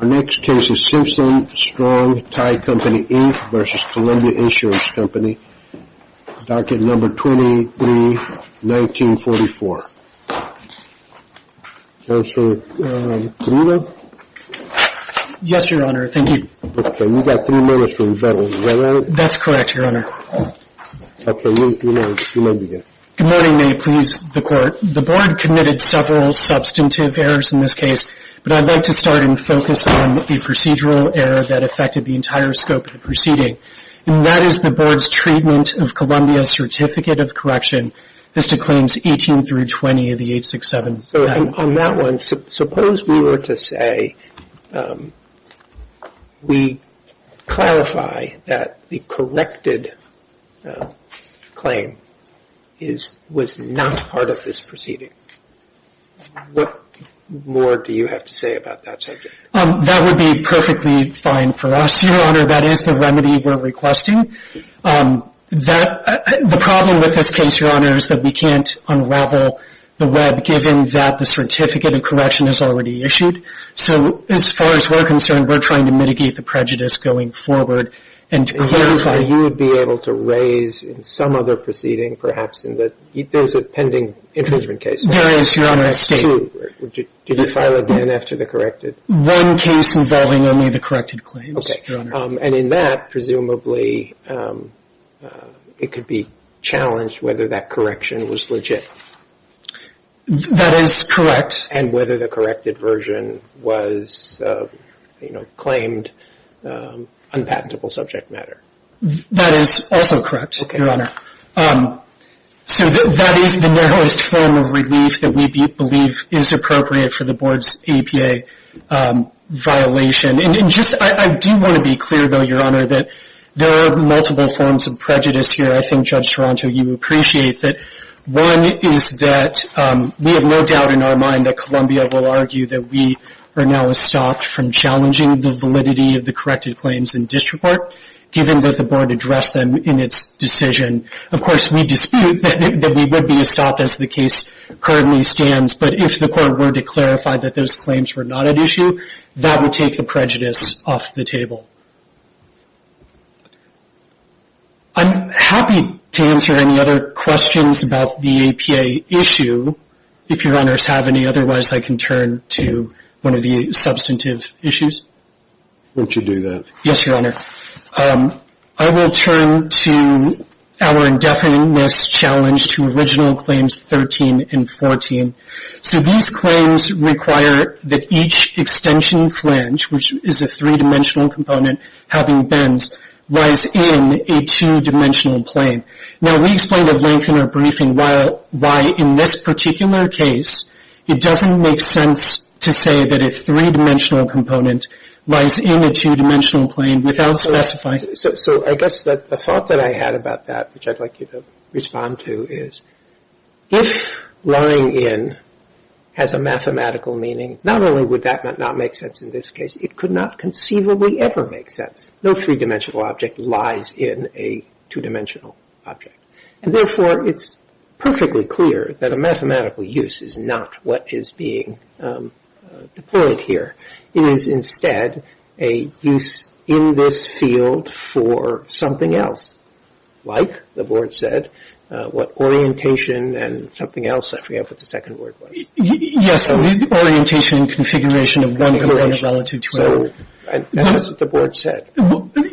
23-1944. Counsel, can you read? Yes, Your Honor. Thank you. Okay. You've got three minutes for rebuttal. Is that right? That's correct, Your Honor. Okay. You may begin. Good morning. May it please the Court. The Board committed several substantive errors in this case, but I'd like to start and focus on the most recent one, which is a case in which the plaintiff is accused of having procedural error that affected the entire scope of the proceeding, and that is the Board's treatment of Columbia's Certificate of Correction, Vista Claims 18-20 of the 867 Act. So on that one, suppose we were to say we clarify that the corrected claim was not part of this proceeding. What more do you have to say about that subject? That would be perfectly fine for us, Your Honor. That is the remedy we're requesting. The problem with this case, Your Honor, is that we can't unravel the web, given that the Certificate of Correction is already issued. So as far as we're concerned, we're trying to mitigate the prejudice going forward and to clarify. Your Honor, you would be able to raise in some other proceeding, perhaps in the — there's a pending infringement case. There is, Your Honor. That's true. Did you file it then after the corrected? One case involving only the corrected claims, Your Honor. And in that, presumably, it could be challenged whether that correction was legit. That is correct. And whether the corrected version was, you know, claimed unpatentable subject matter. That is also correct, Your Honor. So that is the narrowest form of relief that we believe is appropriate for the Board's APA violation. And just — I do want to be clear, though, Your Honor, that there are multiple forms of prejudice here. I think, Judge Toronto, you appreciate that. One is that we have no doubt in our mind that Columbia will argue that we are now stopped from challenging the validity of the corrected claims in district court, given that the Board addressed them in its decision. Of course, we dispute that we would be stopped as the case currently stands, but if the court were to clarify that those claims were not at issue, that would take the prejudice off the table. I'm happy to answer any other questions about the APA issue, if Your Honors have any. Otherwise, I can turn to one of the substantive issues. Won't you do that? Yes, Your Honor. I will turn to our indefiniteness challenge to original claims 13 and 14. So these claims require that each extension flange, which is a three-dimensional component having bends, lies in a two-dimensional plane. Now, we explained at length in our briefing why in this particular case it doesn't make sense to say that a three-dimensional component lies in a two-dimensional plane without specifying So I guess the thought that I had about that, which I'd like you to respond to, is if lying in has a mathematical meaning, not only would that not make sense in this case, it could not conceivably ever make sense. No three-dimensional object lies in a two-dimensional object. And therefore, it's perfectly clear that a mathematical use is not what is being deployed here. It is instead a use in this field for something else, like the Board said, what orientation and something else, I forget what the second word was. Yes, orientation and configuration of one component relative to another. That's what the Board said.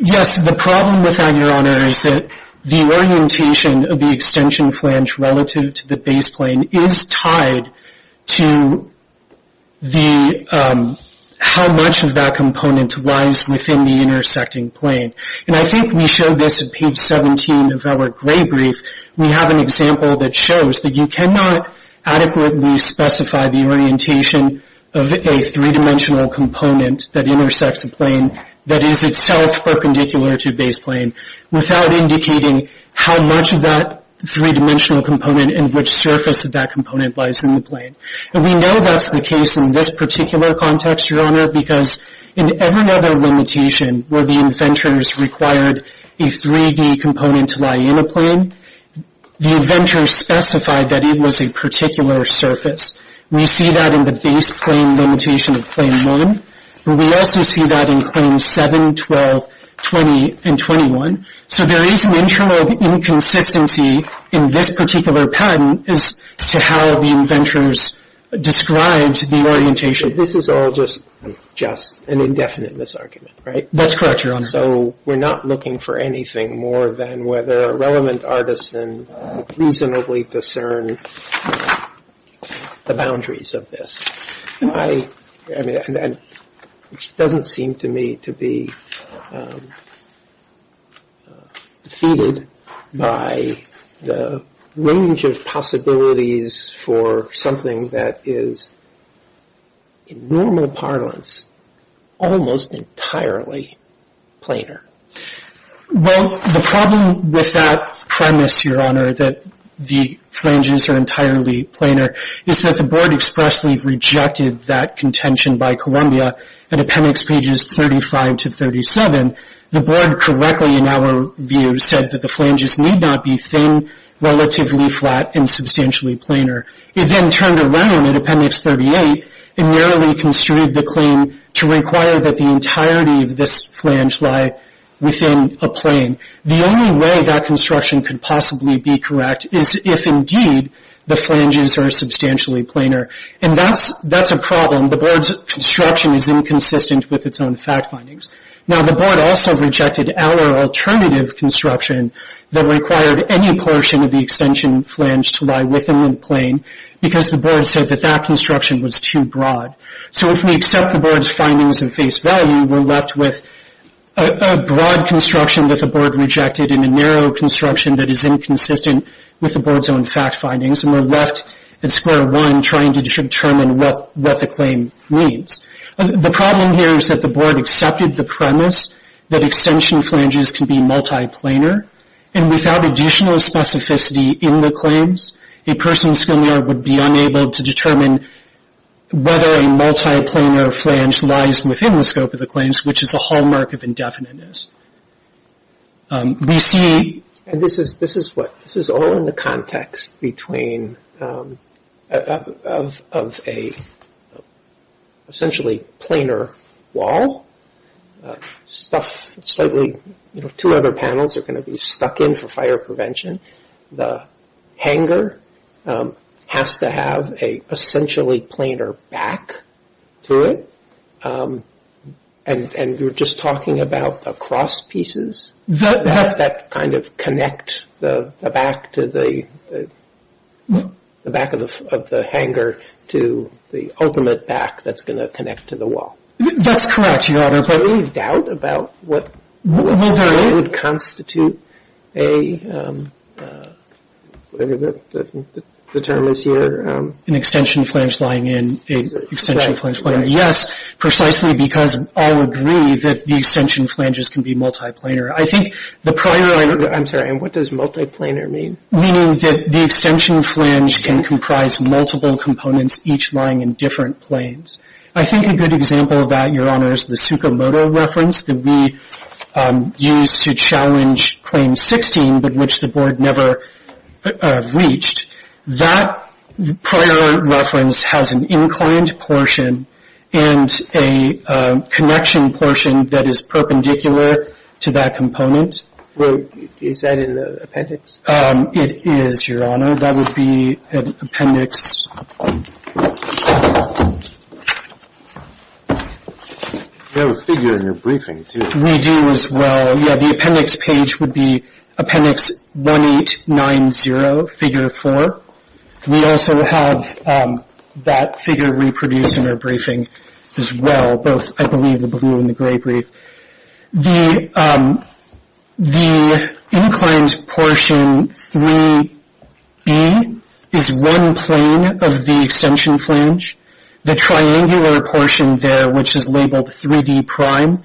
Yes, the problem with that, Your Honor, is that the orientation of the extension flange relative to the base plane is tied to how much of that component lies within the intersecting plane. And I think we showed this at page 17 of our gray brief. We have an example that shows that you cannot adequately specify the orientation of a three-dimensional component that intersects a plane that is itself perpendicular to a base plane without indicating how much of that three-dimensional component and which surface of that component lies in the plane. And we know that's the case in this particular context, Your Honor, because in every other limitation where the inventors required a 3D component to lie in a plane, the inventors specified that it was a particular surface. We see that in the base plane limitation of Plane 1, but we also see that in Planes 7, 12, 20, and 21. So there is an internal inconsistency in this particular patent as to how the inventors described the orientation. This is all just an indefinite misargument, right? That's correct, Your Honor. So we're not looking for anything more than whether a relevant artisan reasonably discern the boundaries of this. It doesn't seem to me to be defeated by the range of possibilities for something that is, in normal parlance, almost entirely planar. Well, the problem with that premise, Your Honor, that the flanges are entirely planar, is that the Board expressly rejected that contention by Columbia at Appendix pages 35 to 37. The Board correctly, in our view, said that the flanges need not be thin, relatively flat, and substantially planar. It then turned around at Appendix 38 and narrowly construed the claim to require that the entirety of this flange lie within a plane. The only way that construction could possibly be correct is if, indeed, the flanges are substantially planar. And that's a problem. The Board's construction is inconsistent with its own fact findings. Now, the Board also rejected outer alternative construction that required any portion of the extension flange to lie within the plane because the Board said that that construction was too broad. So, if we accept the Board's findings in face value, we're left with a broad construction that the Board rejected and a narrow construction that is inconsistent with the Board's own fact findings, and we're left at square one trying to determine what the claim means. The problem here is that the Board accepted the premise that extension flanges can be multi-planar, and without additional specificity in the claims, a person's familiar would be unable to determine whether a multi-planar flange lies within the scope of the claims, which is a hallmark of indefiniteness. We see, and this is what, this is all in the context between, of a essentially planar wall, stuff slightly, you know, two other panels are going to be stuck in for fire prevention. The hanger has to have a essentially planar back to it, and you're just talking about the cross pieces. Does that kind of connect the back to the, the back of the hanger to the ultimate back that's going to connect to the wall? That's correct, Your Honor. Do you have any doubt about what would constitute a, whatever the term is here? An extension flange lying in an extension flange. Yes, precisely because all agree that the extension flanges can be multi-planar. I think the primary. I'm sorry, and what does multi-planar mean? Meaning that the extension flange can comprise multiple components, each lying in different planes. I think a good example of that, Your Honor, is the Tsukamoto reference that we used to challenge Claim 16, but which the Board never reached. That prior reference has an inclined portion and a connection portion that is perpendicular to that component. Is that in the appendix? It is, Your Honor. That would be an appendix. You have a figure in your briefing, too. We do as well. Yeah, the appendix page would be Appendix 1890, Figure 4. We also have that figure reproduced in our briefing as well, both, I believe, the blue and the gray brief. The inclined portion 3B is one plane of the extension flange. The triangular portion there, which is labeled 3D prime,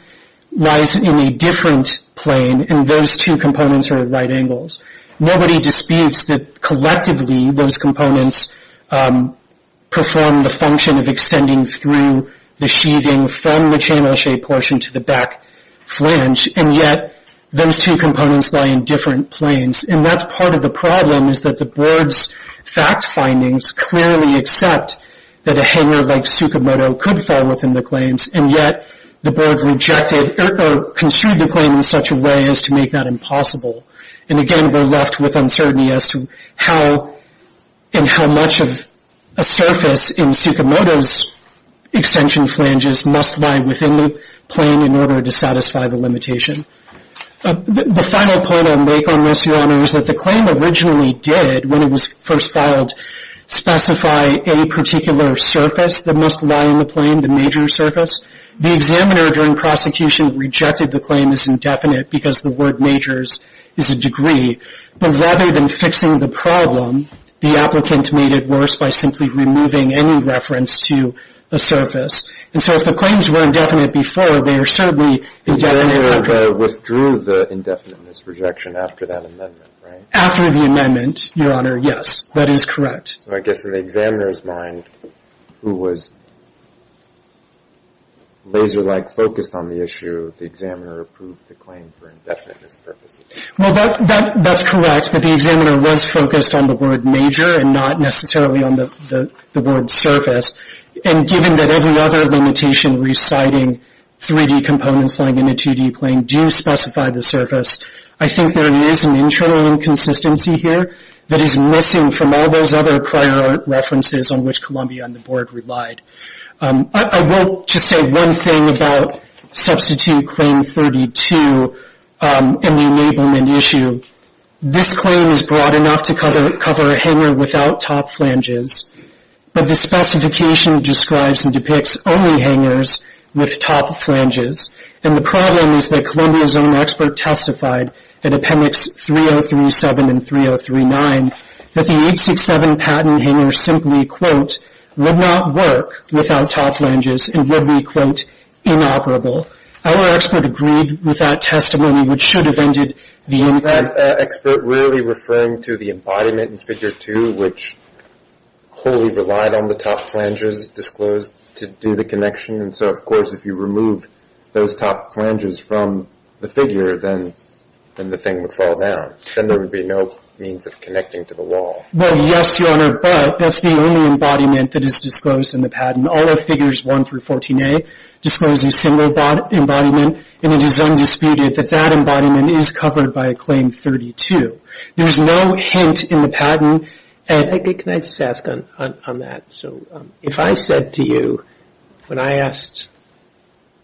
lies in a different plane, and those two components are at right angles. Nobody disputes that collectively those components perform the function of extending through the sheathing from the channel shape portion to the back flange, and yet those two components lie in different planes. That's part of the problem, is that the Board's fact findings clearly accept that a hanger like Tsukamoto could fall within the planes, and yet the Board rejected or construed the plane in such a way as to make that impossible. And again, we're left with uncertainty as to how much of a surface in Tsukamoto's extension flanges must lie within the plane in order to satisfy the limitation. The final point I'll make on this, Your Honor, is that the claim originally did, when it was first filed, specify a particular surface that must lie in the plane, the major surface. The examiner during prosecution rejected the claim as indefinite because the word majors is a degree. But rather than fixing the problem, the applicant made it worse by simply removing any reference to a surface. And so if the claims were indefinite before, they are certainly indefinite after. They withdrew the indefiniteness rejection after that amendment, right? After the amendment, Your Honor, yes. That is correct. So I guess in the examiner's mind, who was laser-like focused on the issue, the examiner approved the claim for indefiniteness purposes. Well, that's correct. But the examiner was focused on the word major and not necessarily on the word surface. And given that every other limitation reciting 3D components lying in a 2D plane do specify the surface, I think there is an internal inconsistency here that is missing from all those other prior references on which Columbia and the Board relied. I will just say one thing about Substitute Claim 32 and the enablement issue. This claim is broad enough to cover a hangar without top flanges, but the specification describes and depicts only hangars with top flanges. And the problem is that Columbia's own expert testified in Appendix 3037 and 3039 that the 867 Patton hangar simply, quote, would not work without top flanges and would be, quote, inoperable. Our expert agreed with that testimony, which should have ended the inquiry. Isn't that expert really referring to the embodiment in Figure 2, which wholly relied on the top flanges disclosed to do the connection? And so, of course, if you remove those top flanges from the figure, then the thing would fall down. Then there would be no means of connecting to the wall. Well, yes, Your Honor, but that's the only embodiment that is disclosed in the Patton. All of Figures 1 through 14a disclose a single embodiment, and it is undisputed that that embodiment is covered by Claim 32. There's no hint in the Patton. Can I just ask on that? So if I said to you, when I asked,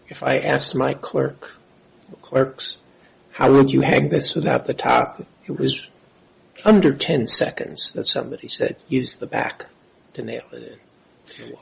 if I asked my clerk, clerks, how would you hang this without the top, it was under 10 seconds that somebody said, use the back to nail it in to the wall.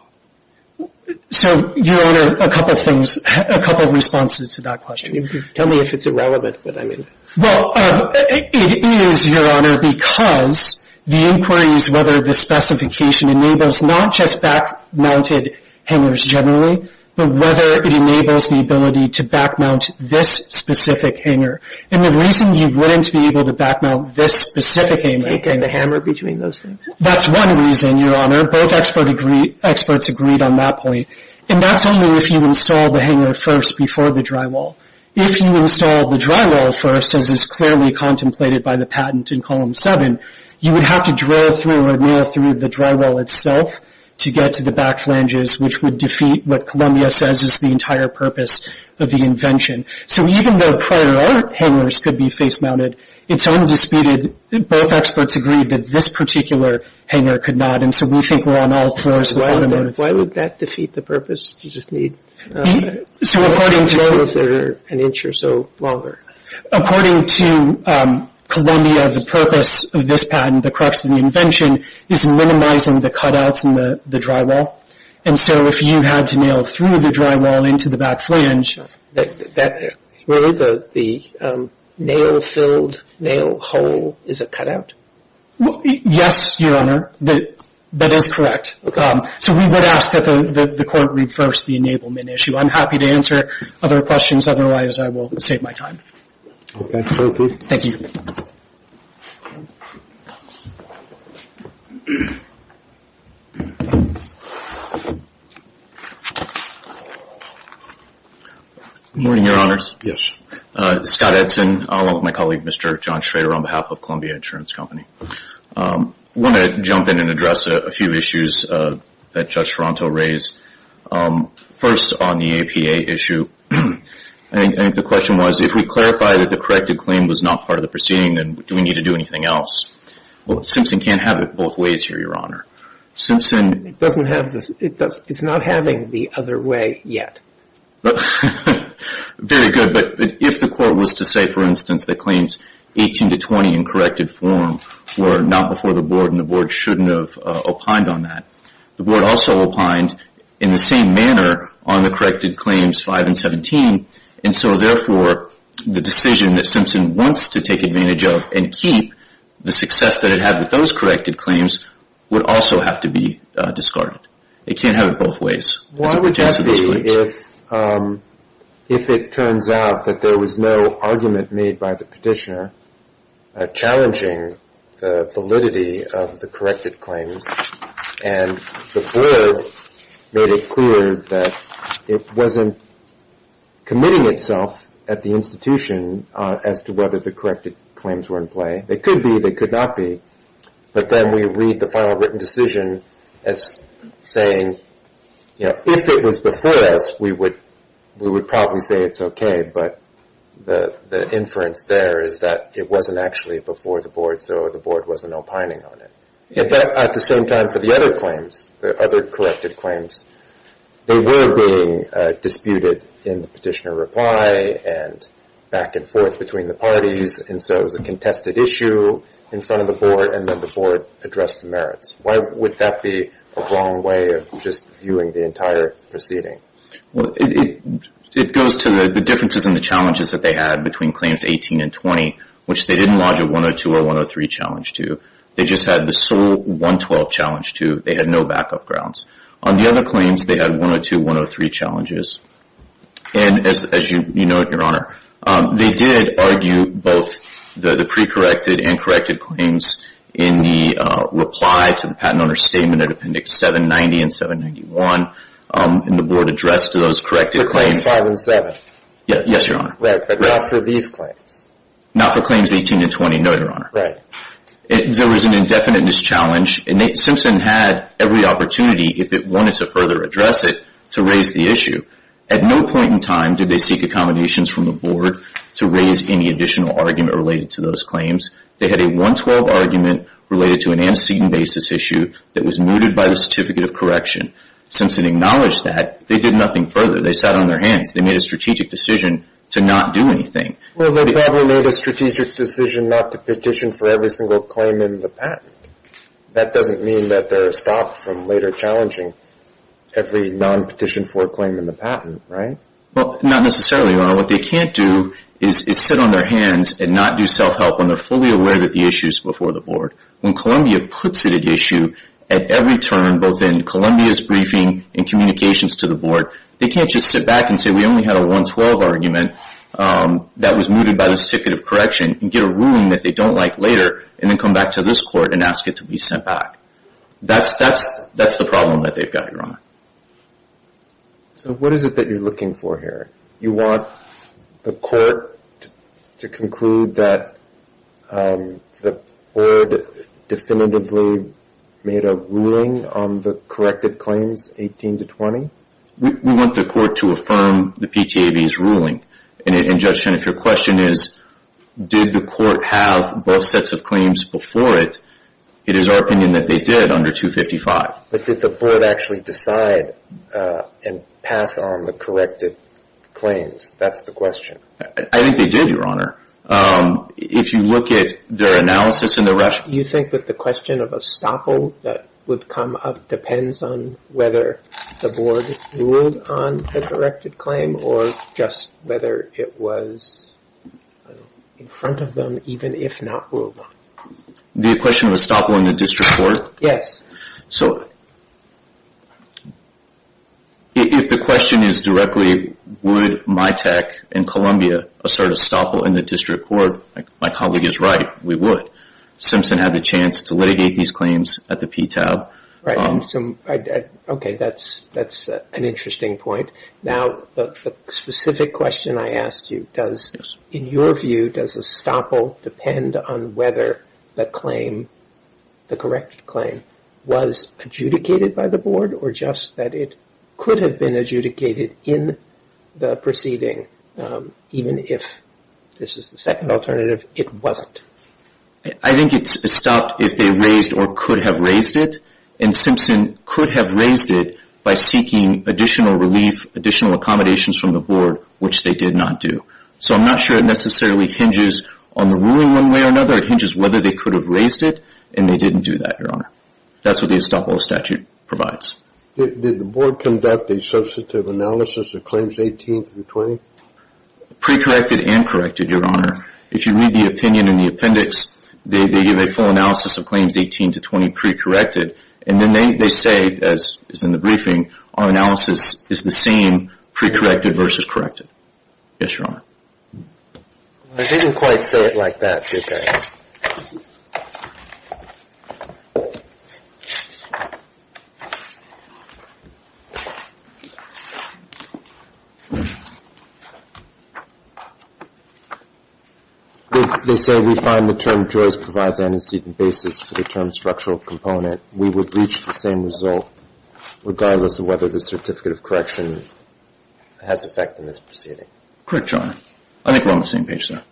So, Your Honor, a couple of things, a couple of responses to that question. Tell me if it's irrelevant what I mean. Well, it is, Your Honor, because the inquiry is whether the specification enables not just back-mounted hangers generally, but whether it enables the ability to back-mount this specific hanger. And the reason you wouldn't be able to back-mount this specific hanger... Can't get the hammer between those things? That's one reason, Your Honor. Both experts agreed on that point. And that's only if you install the hanger first before the drywall. If you install the drywall first, as is clearly contemplated by the Patton in Column 7, you would have to drill through or nail through the drywall itself to get to the back flanges, which would defeat what Columbia says is the entire purpose of the invention. So even though prior hangers could be face-mounted, it's undisputed, both experts agreed that this particular hanger could not. And so we think we're on all fours with all the motives. Why would that defeat the purpose? You just need... So according to... ...to drill it an inch or so longer. According to Columbia, the purpose of this patent, the crux of the invention, is minimizing the cutouts in the drywall. And so if you had to nail through the drywall into the back flange... Really, the nail-filled nail hole is a cutout? Yes, Your Honor. That is correct. So we would ask that the Court reverse the enablement issue. I'm happy to answer other questions. Otherwise, I will save my time. Okay. Thank you. Thank you. Good morning, Your Honors. Yes. Scott Edson, along with my colleague, Mr. John Schrader, on behalf of Columbia Insurance Company. I want to jump in and address a few issues that Judge Toronto raised. First, on the APA issue, I think the question was, if we clarify that the corrected claim was not part of the proceeding, then do we need to do anything else? Well, Simpson can't have it both ways here, Your Honor. It's not having the other way yet. Very good. But if the Court was to say, for instance, that claims 18 to 20 in corrected form were not before the Board and the Board shouldn't have opined on that, the Board also opined in the same manner on the corrected claims 5 and 17. And so, therefore, the decision that Simpson wants to take advantage of and keep, the success that it had with those corrected claims would also have to be discarded. It can't have it both ways. Why would that be if it turns out that there was no argument made by the petitioner challenging the validity of the corrected claims and the Board made it clear that it wasn't committing itself at the institution as to whether the corrected claims were in play. They could be. They could not be. But then we read the final written decision as saying, you know, if it was before us, we would probably say it's okay. But the inference there is that it wasn't actually before the Board, so the Board wasn't opining on it. At the same time, for the other claims, the other corrected claims, they were being disputed in the petitioner reply and back and forth between the parties, and so it was a contested issue in front of the Board, and then the Board addressed the merits. Why would that be a wrong way of just viewing the entire proceeding? Well, it goes to the differences in the challenges that they had between claims 18 and 20, which they didn't lodge a 102 or 103 challenge to. They just had the sole 112 challenge to. They had no backup grounds. On the other claims, they had 102, 103 challenges, and as you know, Your Honor, they did argue both the pre-corrected and corrected claims in the reply to the Patent Owner's Statement at Appendix 790 and 791, and the Board addressed those corrected claims. Claims 5 and 7? Yes, Your Honor. Right, but not for these claims? Not for claims 18 and 20, no, Your Honor. Right. There was an indefinite mischallenge, and Simpson had every opportunity, if it wanted to further address it, to raise the issue. At no point in time did they seek accommodations from the Board to raise any additional argument related to those claims. They had a 112 argument related to an antecedent basis issue that was mooted by the Certificate of Correction. Simpson acknowledged that. They did nothing further. They sat on their hands. They made a strategic decision to not do anything. Well, they probably made a strategic decision not to petition for every single claim in the patent. That doesn't mean that they're stopped from later challenging every non-petitioned for claim in the patent, right? Well, not necessarily, Your Honor. What they can't do is sit on their hands and not do self-help when they're fully aware that the issue is before the Board. When Columbia puts it at issue at every turn, both in Columbia's briefing and communications to the Board, they can't just sit back and say, we only had a 112 argument that was mooted by the Certificate of Correction, and get a ruling that they don't like later, and then come back to this Court and ask it to be sent back. That's the problem that they've got, Your Honor. So what is it that you're looking for here? You want the Court to conclude that the Board definitively made a ruling on the corrective claims 18 to 20? We want the Court to affirm the PTAB's ruling. And, Judge Chen, if your question is, did the Court have both sets of claims before it, it is our opinion that they did under 255. But did the Board actually decide and pass on the corrective claims? That's the question. I think they did, Your Honor. If you look at their analysis and their rationale. Do you think that the question of estoppel that would come up depends on whether the Board ruled on the corrective claim, or just whether it was in front of them, even if not ruled on? The question of estoppel in the District Court? Yes. So if the question is directly, would MITAC in Columbia assert estoppel in the District Court, my colleague is right, we would. Simpson had the chance to litigate these claims at the PTAB. Okay, that's an interesting point. Now, the specific question I asked you, in your view, does estoppel depend on whether the claim, the corrective claim, was adjudicated by the Board, or just that it could have been adjudicated in the proceeding, even if this is the second alternative, it wasn't? I think it's estopped if they raised or could have raised it. And Simpson could have raised it by seeking additional relief, additional accommodations from the Board, which they did not do. So I'm not sure it necessarily hinges on the ruling one way or another. It hinges whether they could have raised it, and they didn't do that, Your Honor. That's what the estoppel statute provides. Did the Board conduct a substantive analysis of claims 18 through 20? Pre-corrected and corrected, Your Honor. If you read the opinion in the appendix, they give a full analysis of claims 18 to 20 pre-corrected, and then they say, as is in the briefing, our analysis is the same pre-corrected versus corrected. Yes, Your Honor. They didn't quite say it like that, did they? They say we find the term Joyce provides an unseated basis for the term structural component. We would reach the same result regardless of whether the certificate of correction has effect in this proceeding. Correct, Your Honor. I think we're on the same page there.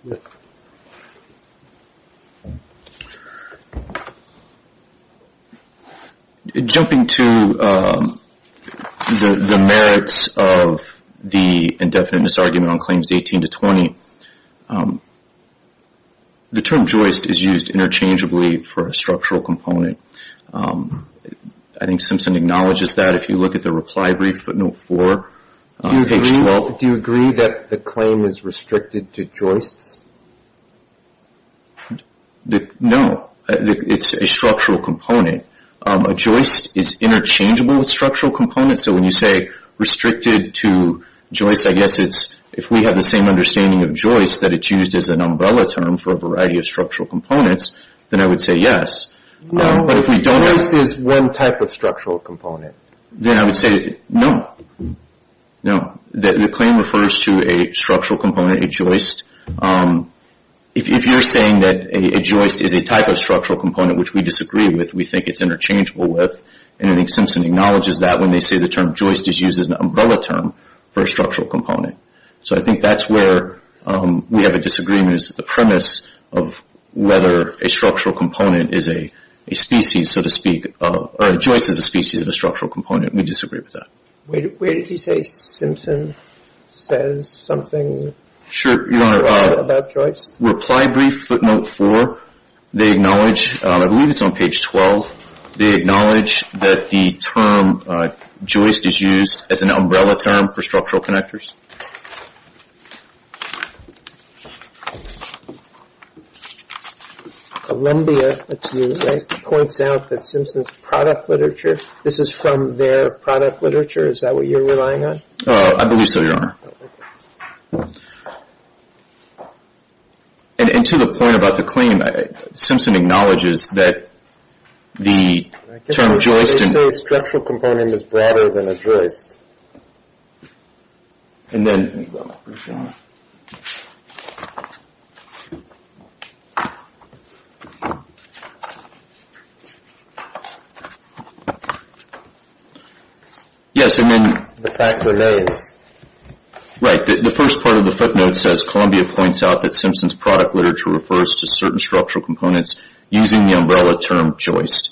Jumping to the merits of the indefinite misargument on claims 18 to 20, the term Joyce is used interchangeably for a structural component. I think Simpson acknowledges that if you look at the reply brief, footnote 4, page 12. Do you agree that the claim is restricted to Joyce? No. It's a structural component. A Joyce is interchangeable with structural components, so when you say restricted to Joyce, I guess it's if we have the same understanding of Joyce that it's used as an umbrella term for a variety of structural components, then I would say yes. No, Joyce is one type of structural component. Then I would say no. No, the claim refers to a structural component, a Joyce. If you're saying that a Joyce is a type of structural component which we disagree with, we think it's interchangeable with, and I think Simpson acknowledges that when they say the term Joyce is used as an umbrella term for a structural component. So I think that's where we have a disagreement is the premise of whether a structural component is a species, so to speak, or a Joyce is a species of a structural component. We disagree with that. Where did he say Simpson says something about Joyce? Reply brief, footnote 4, they acknowledge, I believe it's on page 12, they acknowledge that the term Joyce is used as an umbrella term for structural connectors. Columbia, let's see, points out that Simpson's product literature, this is from their product literature, is that what you're relying on? I believe so, Your Honor. And to the point about the claim, Simpson acknowledges that the term Joyce. They say a structural component is broader than a Joyce. And then. Yes, and then. The fact remains. Right, the first part of the footnote says Columbia points out that Simpson's product literature refers to certain structural components using the umbrella term Joyce.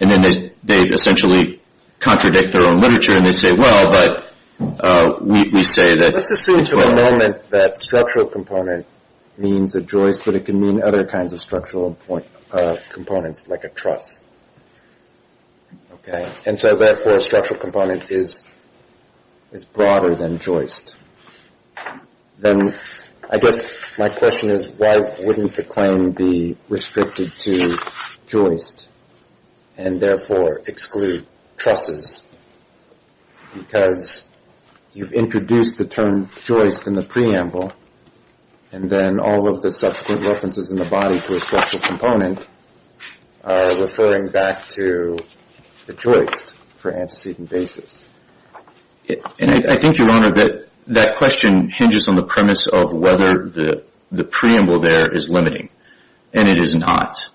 And then they essentially contradict their own literature and they say, well, but we say that. Let's assume for a moment that structural component means a Joyce, but it can mean other kinds of structural components like a truss. Okay. And so therefore a structural component is broader than Joyce. Then I guess my question is why wouldn't the claim be restricted to Joyce and therefore exclude trusses because you've introduced the term Joyce in the preamble and then all of the subsequent references in the body to a structural component are referring back to the Joyce for antecedent basis. I think, Your Honor, that that question hinges on the premise of whether the preamble there is limiting. And it is not.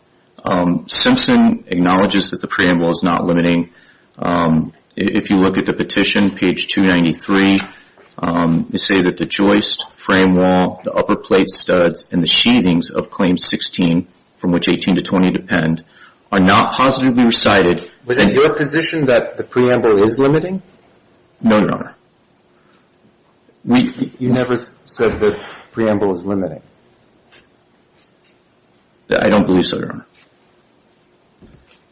Simpson acknowledges that the preamble is not limiting. If you look at the petition, page 293, you say that the Joyce frame wall, the upper plate studs, and the sheathings of claim 16, from which 18 to 20 depend, are not positively recited. Was it your position that the preamble is limiting? No, Your Honor. You never said the preamble is limiting. I don't believe so, Your Honor.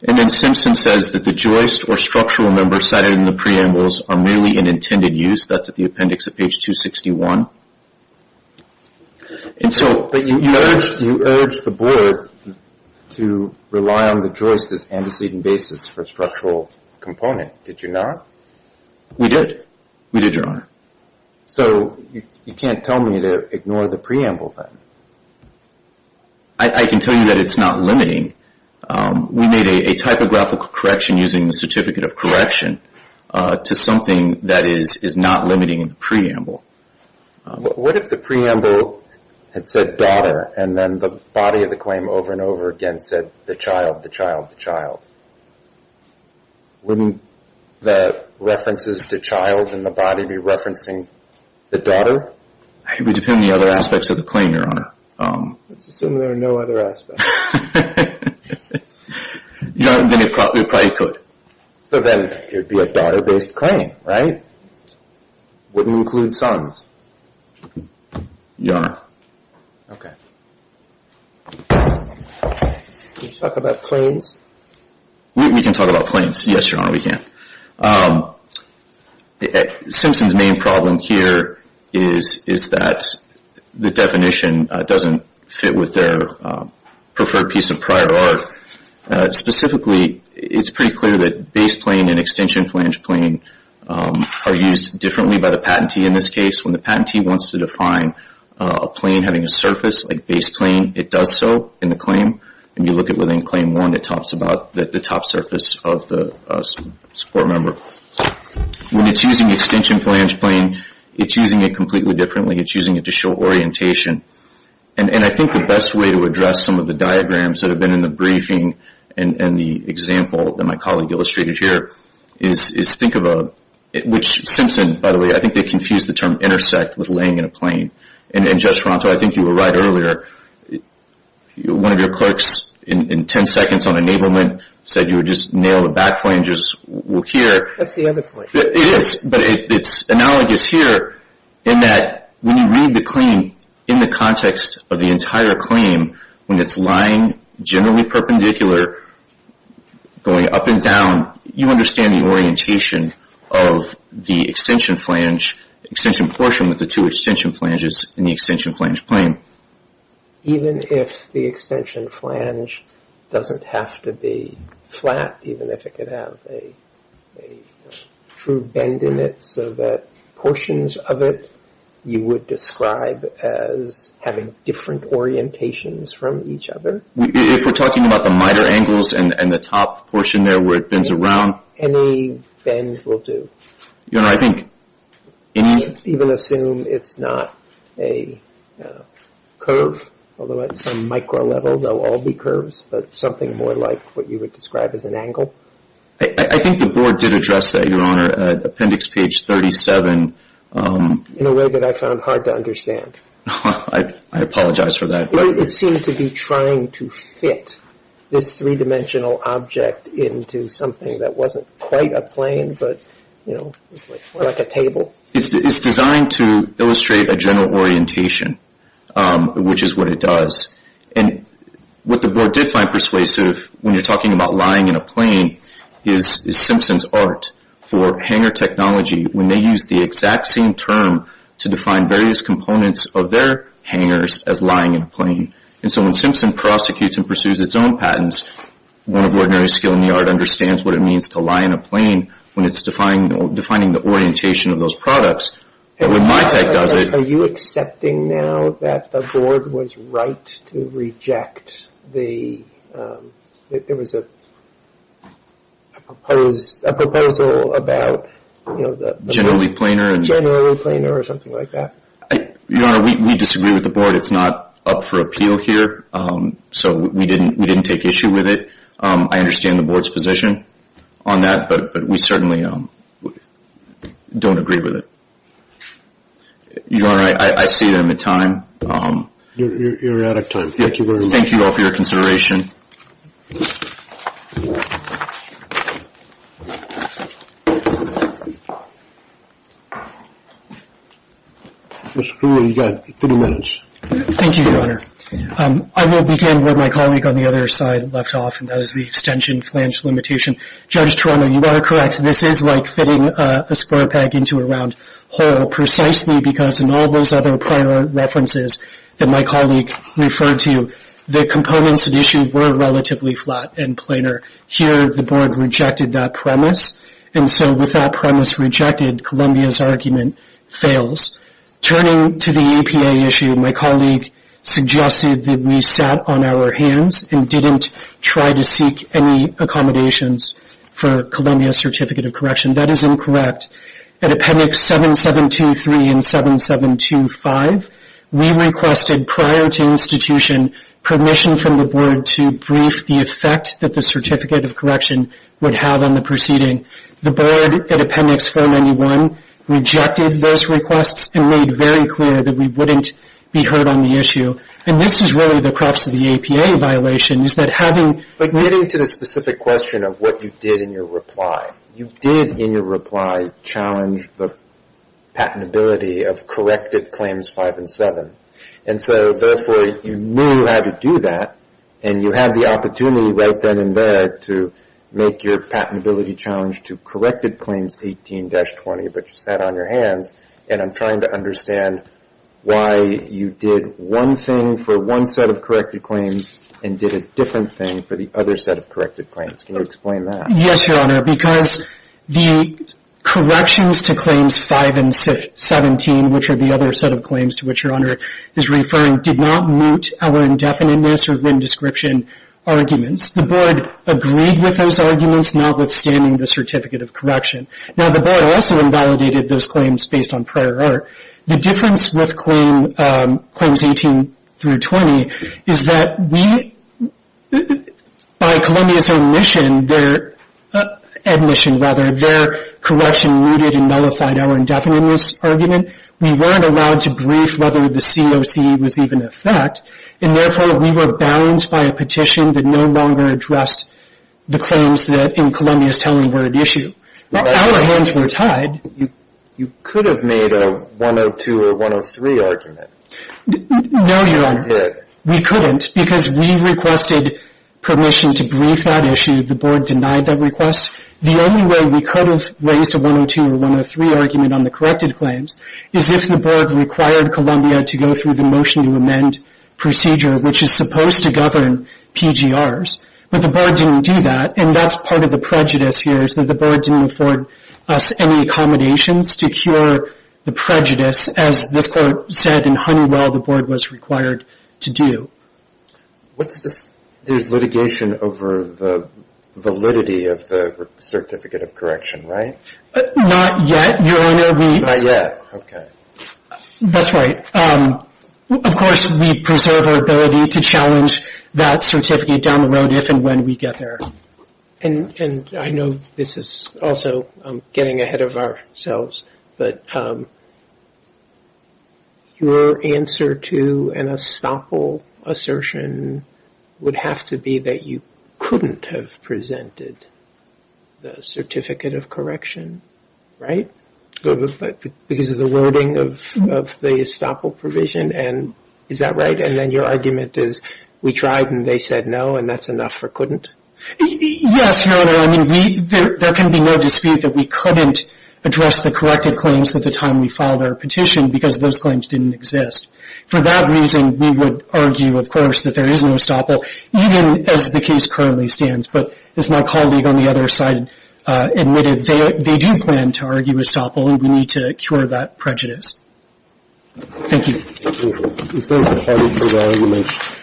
And then Simpson says that the Joyce or structural members cited in the preambles are merely in intended use. That's at the appendix of page 261. But you urged the board to rely on the Joyce as antecedent basis for a structural component. Did you not? We did. We did, Your Honor. So you can't tell me to ignore the preamble then. I can tell you that it's not limiting. We made a typographical correction using the certificate of correction to something that is not limiting in the preamble. What if the preamble had said daughter and then the body of the claim over and over again said the child, the child, the child? Wouldn't the references to child in the body be referencing the daughter? It would depend on the other aspects of the claim, Your Honor. Let's assume there are no other aspects. Your Honor, then it probably could. So then it would be a daughter-based claim, right? Wouldn't include sons. Your Honor. Okay. Can you talk about claims? We can talk about claims. Yes, Your Honor, we can. Simpson's main problem here is that the definition doesn't fit with their preferred piece of prior art. Specifically, it's pretty clear that base plane and extension flange plane are used differently by the patentee in this case. When the patentee wants to define a plane having a surface like base plane, it does so in the claim. When you look at within claim one, it talks about the top surface of the support member. When it's using extension flange plane, it's using it completely differently. It's using it to show orientation. And I think the best way to address some of the diagrams that have been in the briefing and the example that my colleague illustrated here is think of a – which Simpson, by the way, I think they confused the term intersect with laying in a plane. And, Judge Ferranto, I think you were right earlier. One of your clerks in 10 seconds on enablement said you would just nail the back planges here. That's the other point. It is. But it's analogous here in that when you read the claim in the context of the entire claim, when it's lying generally perpendicular, going up and down, you understand the orientation of the extension flange extension portion with the two extension flanges in the extension flange plane. Even if the extension flange doesn't have to be flat, even if it could have a true bend in it so that portions of it you would describe as having different orientations from each other? If we're talking about the minor angles and the top portion there where it bends around? Any bend will do. Your Honor, I think any – Even assume it's not a curve, although at some micro level they'll all be curves, but something more like what you would describe as an angle? I think the board did address that, Your Honor, at appendix page 37. In a way that I found hard to understand. I apologize for that. It seemed to be trying to fit this three-dimensional object into something that wasn't quite a plane but, you know, like a table. It's designed to illustrate a general orientation, which is what it does. And what the board did find persuasive when you're talking about lying in a plane is Simpson's art for hangar technology, when they use the exact same term to define various components of their hangars as lying in a plane. And so when Simpson prosecutes and pursues its own patents, one of ordinary skill in the art understands what it means to lie in a plane when it's defining the orientation of those products. But when my tech does it – Are you accepting now that the board was right to reject the – There was a proposal about the – Generally planar. Generally planar or something like that. Your Honor, we disagree with the board. It's not up for appeal here, so we didn't take issue with it. I understand the board's position on that, but we certainly don't agree with it. Your Honor, I see that I'm at time. You're out of time. Thank you very much. And thank you all for your consideration. Mr. Kruger, you've got 30 minutes. Thank you, Your Honor. I will begin where my colleague on the other side left off, and that is the extension flange limitation. Judge Torano, you are correct. This is like fitting a square peg into a round hole, because in all those other prior references that my colleague referred to, the components of the issue were relatively flat and planar. Here the board rejected that premise, and so with that premise rejected, Columbia's argument fails. Turning to the EPA issue, my colleague suggested that we sat on our hands and didn't try to seek any accommodations for Columbia Certificate of Correction. That is incorrect. At Appendix 7723 and 7725, we requested prior to institution permission from the board to brief the effect that the Certificate of Correction would have on the proceeding. The board at Appendix 491 rejected those requests and made very clear that we wouldn't be heard on the issue. And this is really the crux of the EPA violation is that having – But getting to the specific question of what you did in your reply, you did in your reply challenge the patentability of corrected Claims 5 and 7, and so therefore you knew how to do that, and you had the opportunity right then and there to make your patentability challenge to corrected Claims 18-20, but you sat on your hands, and I'm trying to understand why you did one thing for one set of corrected claims and did a different thing for the other set of corrected claims. Can you explain that? Yes, Your Honor, because the corrections to Claims 5 and 17, which are the other set of claims to which Your Honor is referring, did not meet our indefiniteness or VIN description arguments. The board agreed with those arguments, notwithstanding the Certificate of Correction. Now, the board also invalidated those claims based on prior art. The difference with Claims 18-20 is that we – by Columbia's omission, their admission, rather, their correction rooted and nullified our indefiniteness argument. We weren't allowed to brief whether the COC was even in effect, and therefore we were bound by a petition that no longer addressed the claims that in Columbia's telling word issue. Our hands were tied. You could have made a 102 or 103 argument. No, Your Honor. You didn't. We couldn't because we requested permission to brief that issue. The board denied that request. The only way we could have raised a 102 or 103 argument on the corrected claims is if the board required Columbia to go through the Motion to Amend procedure, which is supposed to govern PGRs. But the board didn't do that, and that's part of the prejudice here, is that the board didn't afford us any accommodations to cure the prejudice. As this court said in Honeywell, the board was required to do. There's litigation over the validity of the Certificate of Correction, right? Not yet, Your Honor. Not yet, okay. That's right. Of course, we preserve our ability to challenge that certificate down the road if and when we get there. And I know this is also getting ahead of ourselves, but your answer to an estoppel assertion would have to be that you couldn't have presented the Certificate of Correction, right, because of the wording of the estoppel provision, and is that right? And then your argument is we tried and they said no, and that's enough or couldn't? Yes, Your Honor. I mean, there can be no dispute that we couldn't address the corrected claims at the time we filed our petition because those claims didn't exist. For that reason, we would argue, of course, that there is no estoppel, even as the case currently stands. But as my colleague on the other side admitted, they do plan to argue estoppel and we need to cure that prejudice. Thank you. Thank you for having me.